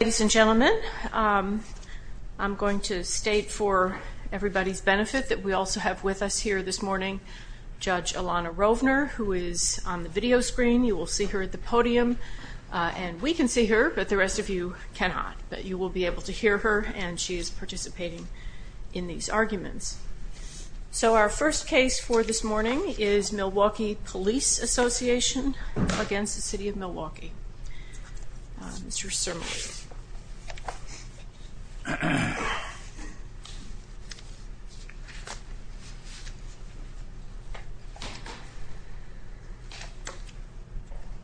Ladies and gentlemen, um, I'm going to state for everybody's benefit that we also have with us here this morning. Judge Alana Rovner, who is on the video screen. You will see her at the podium on. We can see her, but the rest of you cannot. But you will be able to hear her, and she is participating in these arguments. So our first case for this morning is Milwaukee Police Association against the city of Milwaukee. Mr. Sir.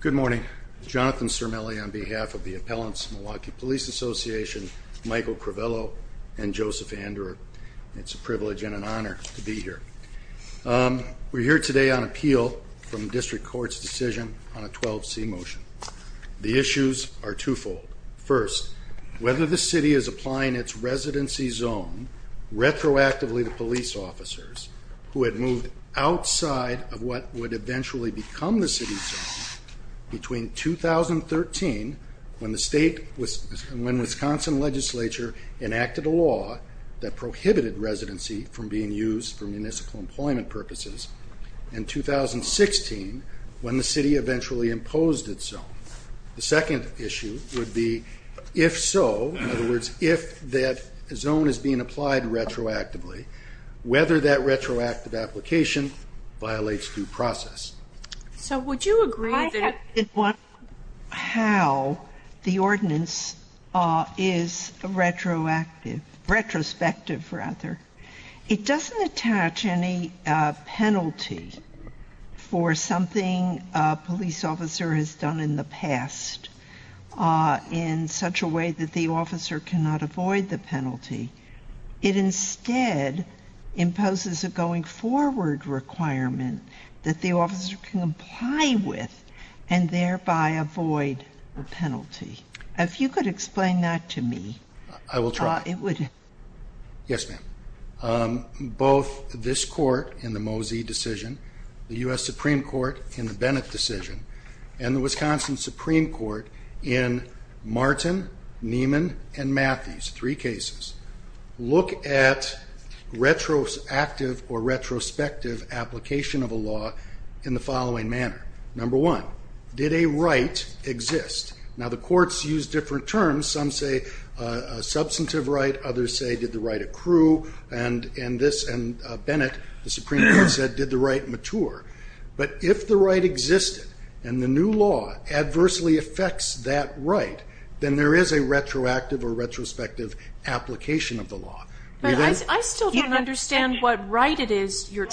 Good morning, Jonathan Sir. Mellie on behalf of the appellants, Milwaukee Police Association, Michael Crivello and Joseph Andrew. It's a privilege and an honor to be here. Um, we're here today on appeal from district court's decision on a 12 C motion. The issues are twofold. First, whether the city is applying its residency zone retroactively to police officers who had moved outside of what would eventually become the city's between 2013 when the state was when Wisconsin Legislature enacted a law that prohibited residency from being used for municipal employment purposes in 2016 when the city eventually imposed its own. The second issue would be if so, in other words, if that zone is being applied retroactively, whether that retroactive application violates due process. So would you agree that it? What? How? The ordinance is retroactive, retrospective rather. It doesn't attach any penalty for something police officer has done in the past, uh, in such a way that the officer cannot avoid the penalty. It instead imposes a going forward requirement that the officer can apply with and thereby avoid the penalty. If you could explain that to me, I will try. Yes, ma'am. Um, both this court in the Mosey decision, the U. S. Supreme Court in the Bennett decision and the Wisconsin Supreme Court in Martin, Neiman and Matthews, three cases look at retroactive or retrospective application of a law in the following manner. Number one, did a right exist? Now, the courts use different terms. Some say a substantive right. Others say did the right accrue? And in this and Bennett, the Supreme Court said did the right mature? But if the right existed and the new law adversely affects that right, then there is a retroactive or retrospective application of the law. But I still don't understand what right it is you're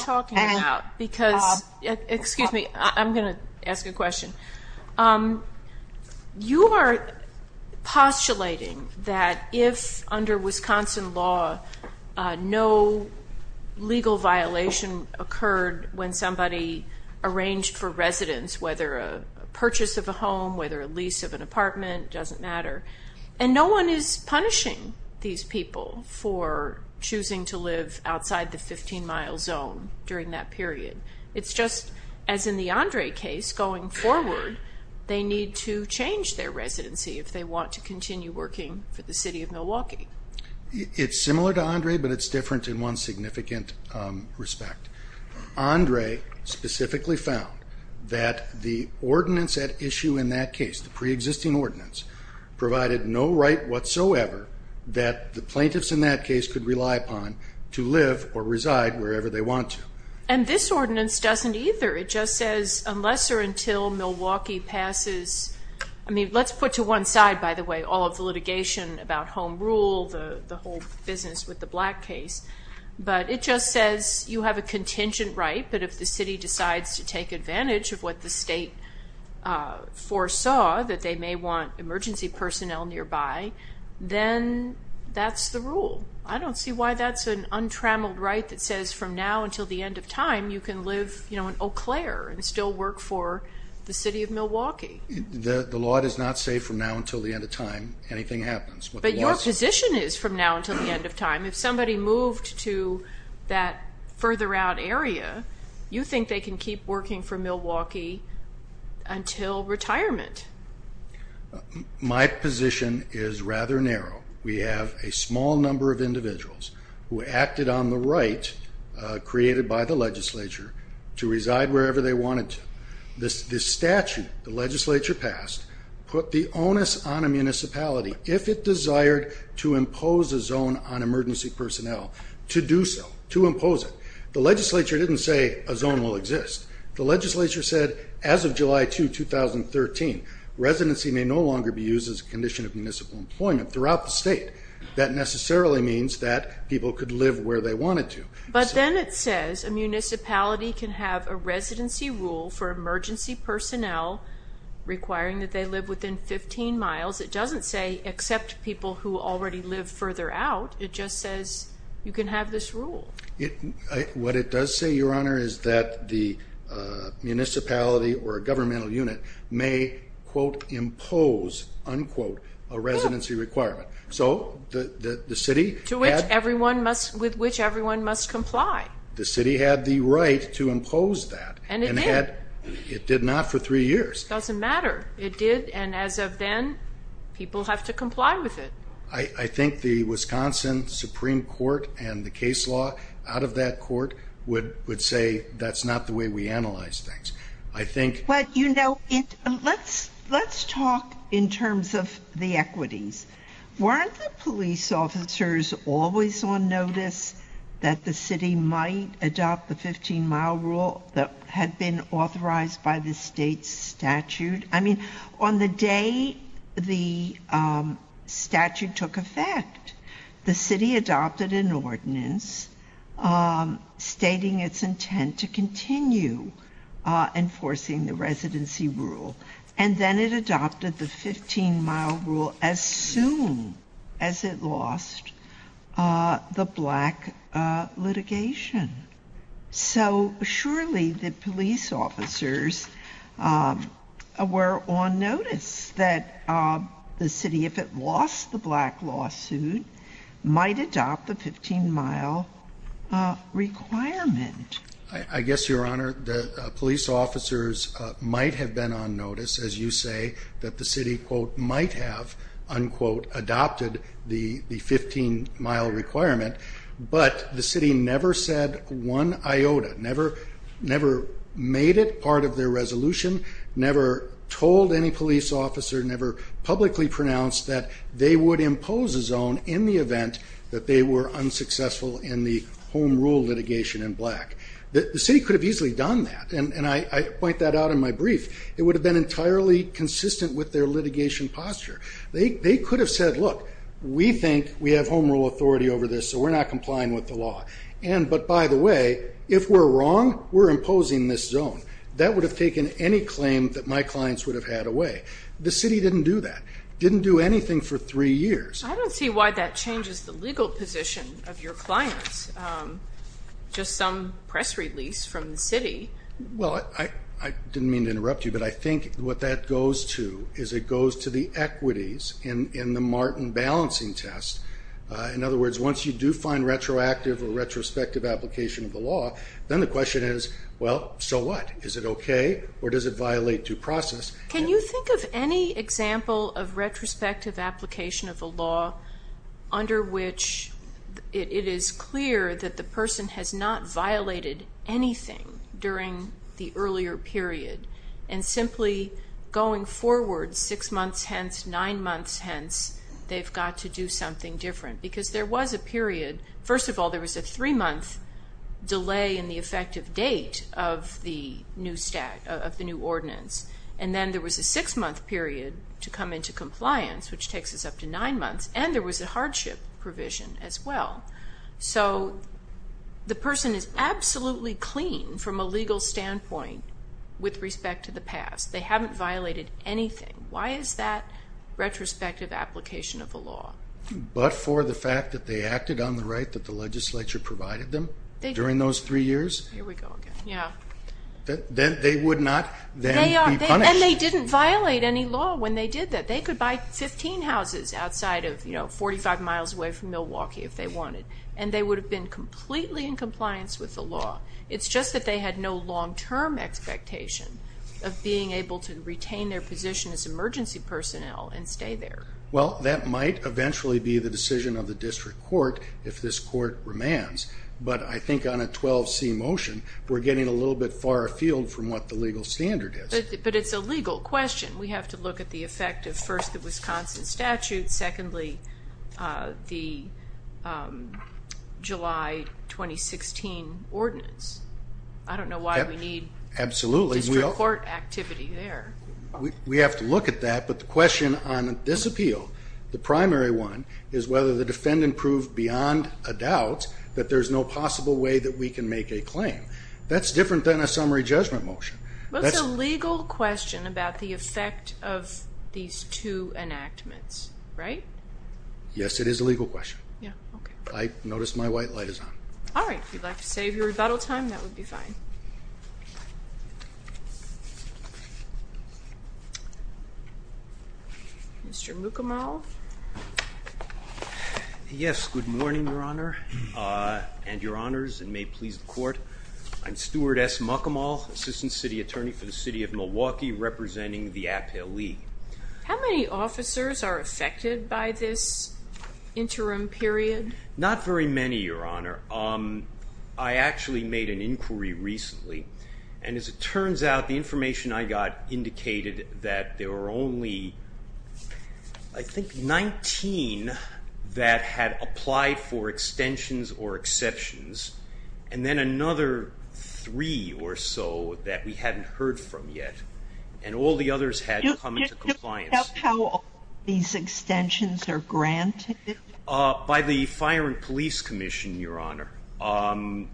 you are postulating that if under Wisconsin law, no legal violation occurred when somebody arranged for residents, whether a purchase of a home, whether a lease of an apartment doesn't matter. And no one is punishing these people for choosing to live outside the 15 mile zone during that period. It's just as in the Andre case going forward, they need to change their residency if they want to continue working for the city of Milwaukee. It's similar to Andre, but it's different in one significant respect. Andre specifically found that the ordinance at issue in that case, the preexisting ordinance, provided no right whatsoever that the plaintiffs in that case could rely upon to live or reside wherever they want to. And this ordinance doesn't either. It just says unless or until Milwaukee passes, I mean, let's put to one side, by the way, all of the litigation about home rule, the whole business with the Black case, but it just says you have a contingent right. But if the city decides to take advantage of what the state foresaw, that they may want emergency personnel nearby, then that's the rule. I don't see why that's an untrammeled right that says from now until the end of time, you can live in Eau Claire and still work for the city of Milwaukee. The law does not say from now until the end of time, anything happens. But your position is from now until the end of time, if somebody moved to that further out area, you think they can keep working for Milwaukee until retirement? My position is rather narrow. We have a small number of individuals who acted on the right created by the legislature to reside wherever they wanted to. This statute the legislature passed put the onus on a municipality, if it desired to impose a zone on emergency personnel, to do so, to impose it. The legislature didn't say a zone will exist. The legislature said as of July 2, 2013, residency may no longer be used as a condition of municipal employment throughout the state. That necessarily means that people could live where they wanted to. But then it says a municipality can have a residency rule for emergency personnel requiring that they live within 15 miles. It doesn't say accept people who already live further out. It just says you can have this rule. What it does say, your honor, is that the municipality or a governmental unit may, quote, impose, unquote, a residency requirement. So the city... To which everyone must, with which everyone must comply. The city had the right to impose that. And it did. It did not for three years. Doesn't matter. It did, and as of then, people have to comply with it. I think the Wisconsin Supreme Court and the case law out of that court would say that's not the way we analyze things. I think... But you know, let's talk in terms of the equities. Weren't the police officers always on notice that the city might adopt the 15-mile rule that had been authorized by the state's The day the statute took effect, the city adopted an ordinance stating its intent to continue enforcing the residency rule. And then it adopted the 15-mile rule as soon as it lost the black litigation. So surely the police officers were on notice that the city, if it lost the black lawsuit, might adopt the 15-mile requirement. I guess, your honor, the police officers might have been on notice, as you say, that the city, quote, might have, unquote, adopted the 15-mile requirement, but the city never said one iota, never made it part of their resolution, never told any police officer, never publicly pronounced that they would impose a zone in the event that they were unsuccessful in the home rule litigation in black. The city could have easily done that, and I point that out in my brief. It would have been entirely consistent with their We think we have home rule authority over this, so we're not complying with the law. And, but by the way, if we're wrong, we're imposing this zone. That would have taken any claim that my clients would have had away. The city didn't do that. Didn't do anything for three years. I don't see why that changes the legal position of your clients. Just some press release from the city. Well, I didn't mean to interrupt you, but I think what that In other words, once you do find retroactive or retrospective application of the law, then the question is, well, so what? Is it okay, or does it violate due process? Can you think of any example of retrospective application of the law under which it is clear that the person has not violated anything during the earlier period, and simply going forward six months hence, nine to do something different? Because there was a period, first of all, there was a three month delay in the effective date of the new stat, of the new ordinance, and then there was a six month period to come into compliance, which takes us up to nine months, and there was a hardship provision as well. So the person is absolutely clean from a legal standpoint with respect to the past. They haven't violated anything. Why is that retrospective application of the law? But for the fact that they acted on the right that the legislature provided them during those three years? Here we go again, yeah. They would not then be punished. And they didn't violate any law when they did that. They could buy 15 houses outside of 45 miles away from Milwaukee if they wanted, and they would have been completely in compliance with the law. It's just that they had no long term expectation of being able to retain their position as emergency personnel and stay there. Well, that might eventually be the decision of the district court if this court remands. But I think on a 12C motion, we're getting a little bit far afield from what the legal standard is. But it's a legal question. We have to look at the effect of first, the Wisconsin statute, secondly, the July 2016 ordinance. I don't know why we need district court activity there. We have to look at that. But the question on this appeal, the primary one, is whether the defendant proved beyond a doubt that there's no possible way that we can make a claim. That's different than a summary judgment motion. That's a legal question about the effect of these two enactments, right? Yes, it is a legal question. I noticed my white light is on. All right. If you'd like to save your rebuttal time, that would be fine. Mr. Mukamal. Yes. Good morning, Your Honor and Your Honors, and may it please the court. I'm Stuart S. Mukamal, Assistant City Attorney for the City of Milwaukee, representing the appellee. How many officers are affected by this interim period? Not very many, Your Honor. I actually made an inquiry recently, and as it turns out, the information I got indicated that there were only, I think, 19 that had applied for extensions or exceptions, and then another three or so that we hadn't heard from yet, and all the others had come into compliance. Do you know how all these extensions are granted? By the Fire and Police Commission, Your Honor.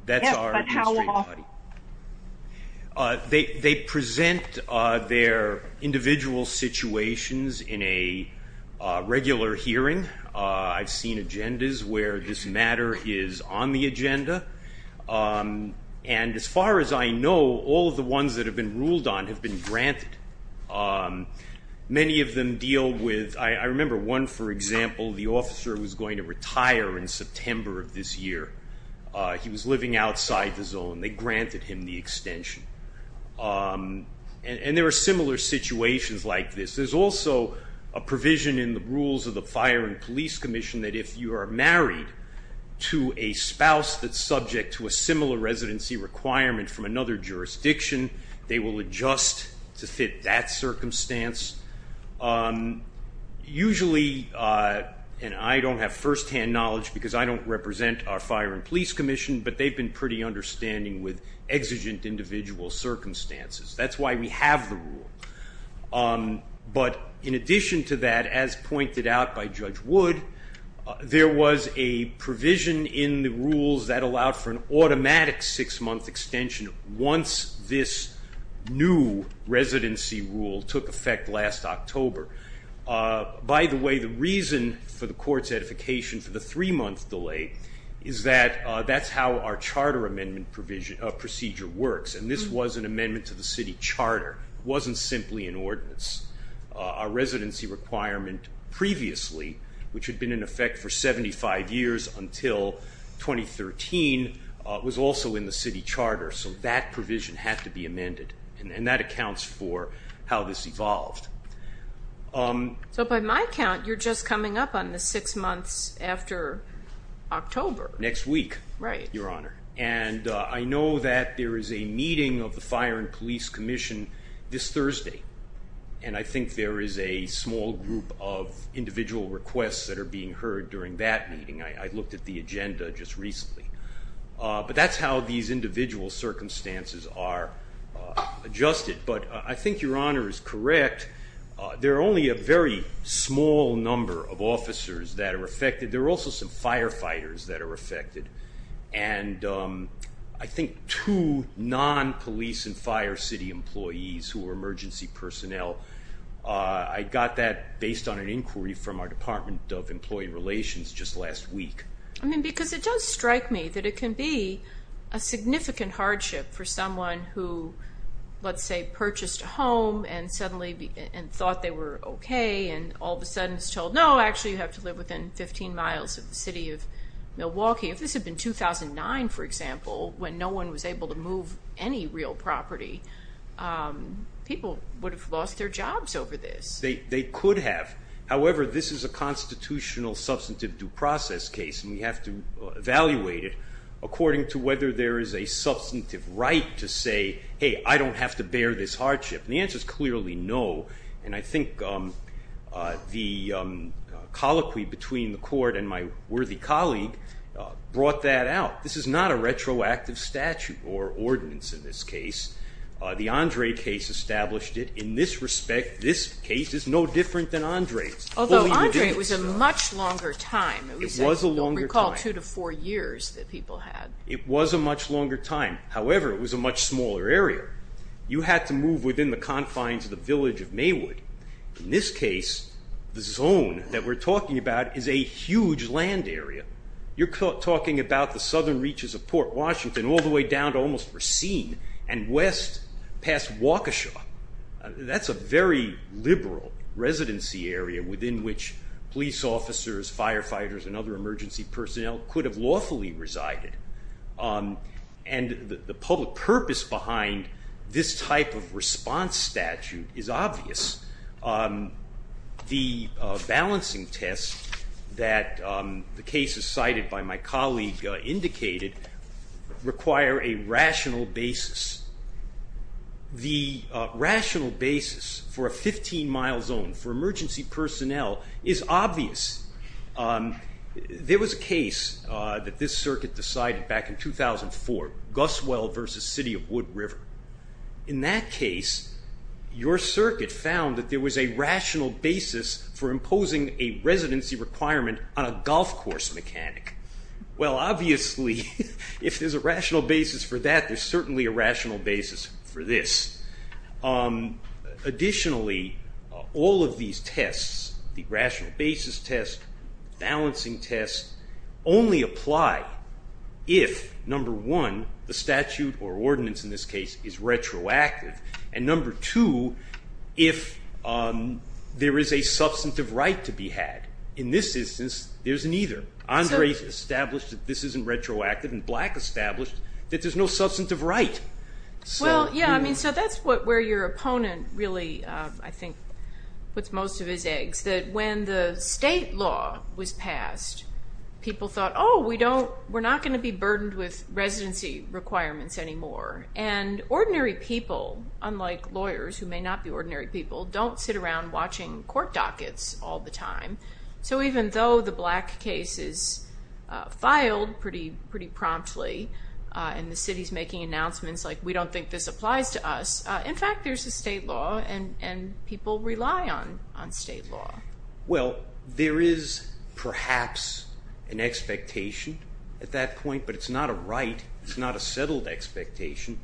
That's our administrative body. Yes, but how often? They present their individual situations in a regular hearing. I've seen agendas where this matter is on the agenda, and as far as I know, all of the ones that have been ruled on have been granted. Many of them deal with... I remember one, for example, the officer who was going to retire in September of this year. He was living outside the zone. They granted him the extension, and there are similar situations like this. There's also a provision in the rules of the Fire and Police Commission. If a woman is married to a spouse that's subject to a similar residency requirement from another jurisdiction, they will adjust to fit that circumstance. Usually, and I don't have firsthand knowledge because I don't represent our Fire and Police Commission, but they've been pretty understanding with exigent individual circumstances. That's why we have the rule, but in fact, there was a provision in the rules that allowed for an automatic six-month extension once this new residency rule took effect last October. By the way, the reason for the court's edification for the three-month delay is that that's how our charter amendment procedure works, and this was an amendment to the city charter. It wasn't simply an ordinance. Our residency requirement previously, which had been in effect for 75 years until 2013, was also in the city charter, so that provision had to be amended, and that accounts for how this evolved. So by my count, you're just coming up on the six months after October. Next week, Your Honor, and I know that there is a meeting of the Fire and Police Commission this Thursday, and I think there is a small group of individual requests that are being heard during that meeting. I looked at the agenda just recently, but that's how these individual circumstances are adjusted, but I think Your Honor is correct. There are only a very small number of officers that are affected. There are also some firefighters that are affected, and I know that there are some fire city employees who are emergency personnel. I got that based on an inquiry from our Department of Employee Relations just last week. I mean, because it does strike me that it can be a significant hardship for someone who, let's say, purchased a home and suddenly thought they were okay, and all of a sudden is told, no, actually you have to live within 15 miles of the city of Milwaukee. If this was a constitutional case, people would have lost their jobs over this. They could have. However, this is a constitutional substantive due process case, and we have to evaluate it according to whether there is a substantive right to say, hey, I don't have to bear this hardship. The answer is clearly no, and I think the colloquy between the court and my worthy colleague brought that out. This is not a constitutional case. The Andre case established it. In this respect, this case is no different than Andre's. Although Andre was a much longer time. It was a longer time. Recall two to four years that people had. It was a much longer time. However, it was a much smaller area. You had to move within the confines of the village of Maywood. In this case, the zone that we're talking about is a huge land area. You're talking about the southern reaches of Port Washington, all the way down to almost Racine, and west of the city of Milwaukee. Passed Waukesha. That's a very liberal residency area within which police officers, firefighters, and other emergency personnel could have lawfully resided, and the public purpose behind this type of response statute is obvious. The balancing test that the case is cited by my colleague indicated require a rational basis. The rational basis for a 15-mile zone for emergency personnel is obvious. There was a case that this circuit decided back in 2004, Guswell versus City of Wood River. In that case, your circuit found that there was a rational basis for imposing a residency requirement on a golf course mechanic. Well, obviously, if there's a rational basis for that, there's certainly a rational basis for this. Additionally, all of these tests, the rational basis test, balancing test, only apply if, number one, the statute or ordinance in this case is retroactive, and number two, if there is a substantive right to be had. In this instance, there's neither. The state established that this isn't retroactive, and black established that there's no substantive right. Well, yeah, I mean, so that's where your opponent really, I think, puts most of his eggs, that when the state law was passed, people thought, oh, we're not going to be burdened with residency requirements anymore, and ordinary people, unlike lawyers who may not be ordinary people, don't sit around watching court dockets all the time. So even though the black case is filed pretty promptly, and the city's making announcements like, we don't think this applies to us, in fact, there's a state law, and people rely on state law. Well, there is perhaps an expectation at that point, but it's not a right. It's not a settled expectation.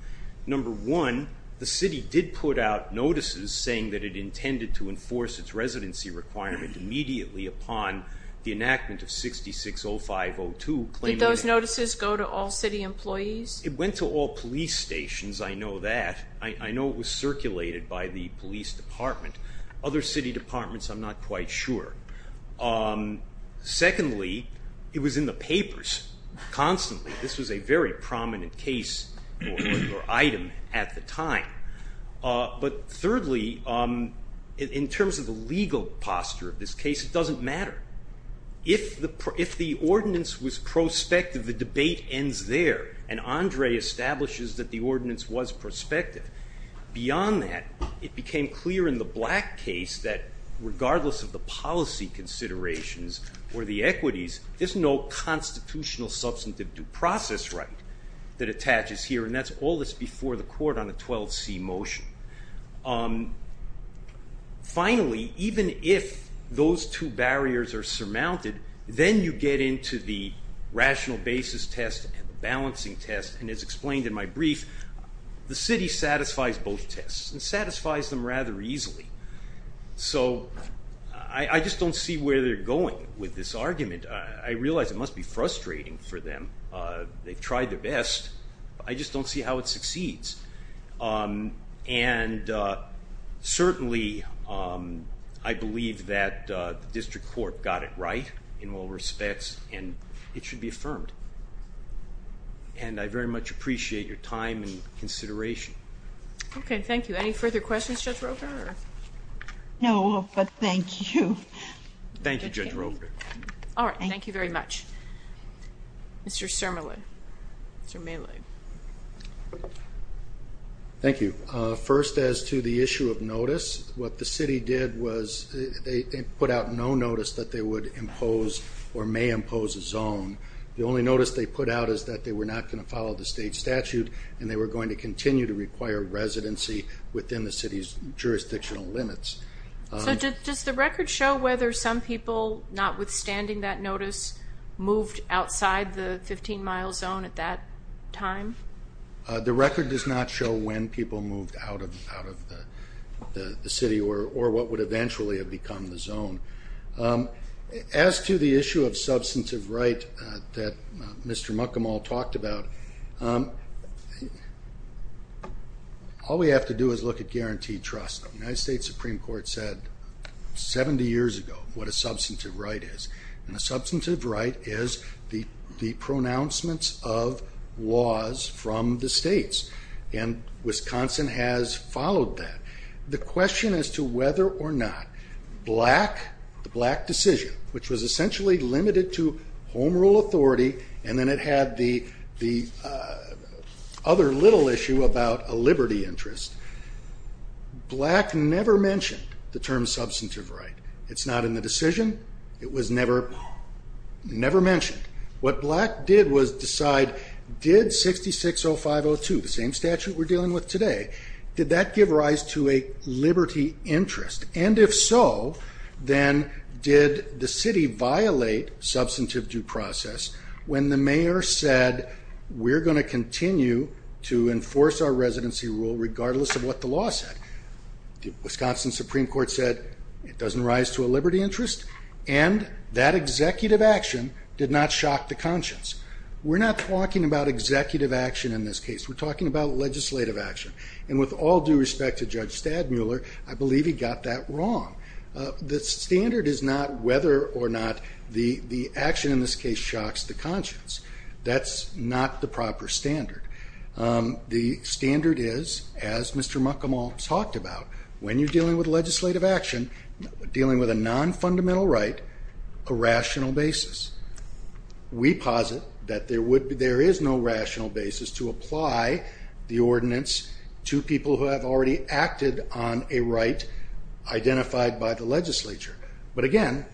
Number one, the city did put out notices saying that it intended to enforce its residency requirement immediately upon the enactment of 660502, claiming that- Did those notices go to all city employees? It went to all police stations. I know that. I know it was circulated by the police department. Other city departments, I'm not quite sure. Secondly, it was in the papers constantly. This was a very prominent case or item at the time, but thirdly, in terms of the legal posture of this case, it doesn't matter. If the ordinance was prospective, the debate ends there, and Andre establishes that the ordinance was prospective. Beyond that, it became clear in the black case that regardless of the policy considerations or the equities, there's no constitutional substantive due process right that attaches here, and that's all that's before the court on the 12C motion. Finally, even if those two barriers are surmounted, then you get into the rational basis test and the balancing test, and as explained in my brief, the city satisfies both tests and satisfies them rather easily, so I just don't see where they're going with this argument. I realize it must be frustrating for them. They've tried their best. I just don't see how it succeeds, and certainly, I believe that the district court got it right in all respects, and it should be affirmed, and I very much appreciate your time and consideration. Okay, thank you. Any further questions, Judge Roper? No, but thank you. Thank you, Judge Roper. All right, thank you very much. Mr. Sermele. Mr. Meele. Thank you. First, as to the issue of notice, what the city did was they put out no notice that they would impose or may impose a zone. The only notice they put out is that they were not going to follow the state statute, and they were going to continue to require residency within the city's jurisdictional limits. So does the record show whether some people, notwithstanding that notice, moved outside the 15-mile zone at that time? The record does not show when people moved out of the city or what would eventually have become the zone. As to the issue of substantive right that Mr. Muckamal talked about, all we have to do is look at guaranteed trust. The United States Supreme Court said 70 years ago what a substantive right is, and a substantive right is the pronouncements of laws from the states, and Wisconsin has followed that. The question as to whether or not the Black decision, which was essentially limited to home rule authority and then it had the other little issue about a liberty interest, Black never mentioned the term substantive right. It's not in the decision. It was never mentioned. What Black did was decide, did 660502, the same statute we're dealing with today, did that give rise to a liberty interest? And if so, then did the city violate substantive due process when the mayor said we're going to continue to enforce our residency rule regardless of what the law said? Wisconsin Supreme Court said it doesn't rise to a liberty interest, and that executive action did not shock the conscience. We're not talking about executive action in this case. We're talking about legislative action. And with all due respect to Judge Stadmuller, I believe he got that wrong. The standard is not whether or not the action in this case shocks the conscience. That's not the proper standard. The standard is, as Mr. Muckamal talked about, when you're dealing with legislative action, dealing with a non-fundamental right, a rational basis. We posit that there is no rational basis to apply the ordinance to people who have already acted on a right identified by the legislature. But again,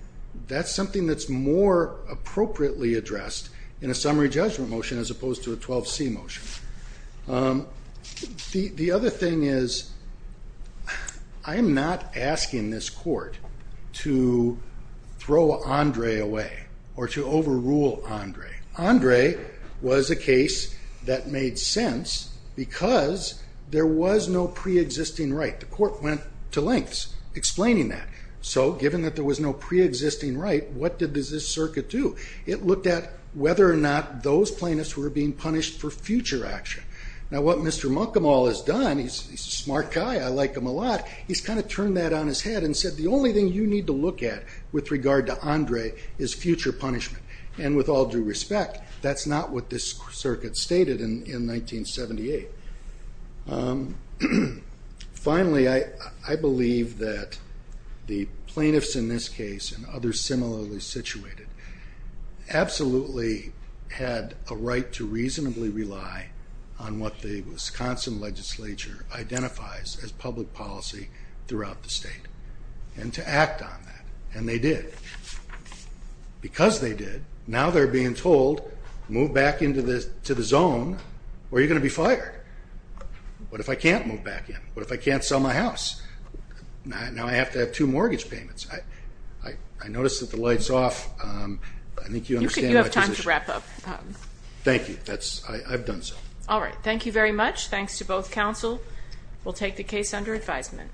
that's something that's more appropriately addressed in a summary judgment motion as opposed to a 12C motion. The other thing is, I'm not asking this court to throw Andre away or to overrule Andre. Andre was a case that made sense because there was no pre-existing right. The court went to lengths explaining that. So given that there was no pre-existing right, what did this circuit do? It looked at whether or not those plaintiffs were being punished for future action. Now, what Mr. Muckamal has done, he's a smart guy, I like him a lot, he's kind of turned that on his head and said, the only thing you need to look at with regard to Andre is future punishment. And with all due respect, that's not what this circuit stated in 1978. Finally, I believe that the plaintiffs in this case and others similarly situated absolutely had a right to reasonably rely on what the Wisconsin legislature identifies as public policy throughout the state. And to act on that, and they did. Because they did, now they're being told, move back into the zone or you're going to be fired. What if I can't move back in? What if I can't sell my house? Now I have to have two mortgage payments. I noticed that the light's off. I think you understand my position. You have time to wrap up. Thank you, I've done so. All right, thank you very much. Thanks to both counsel. We'll take the case under advisement.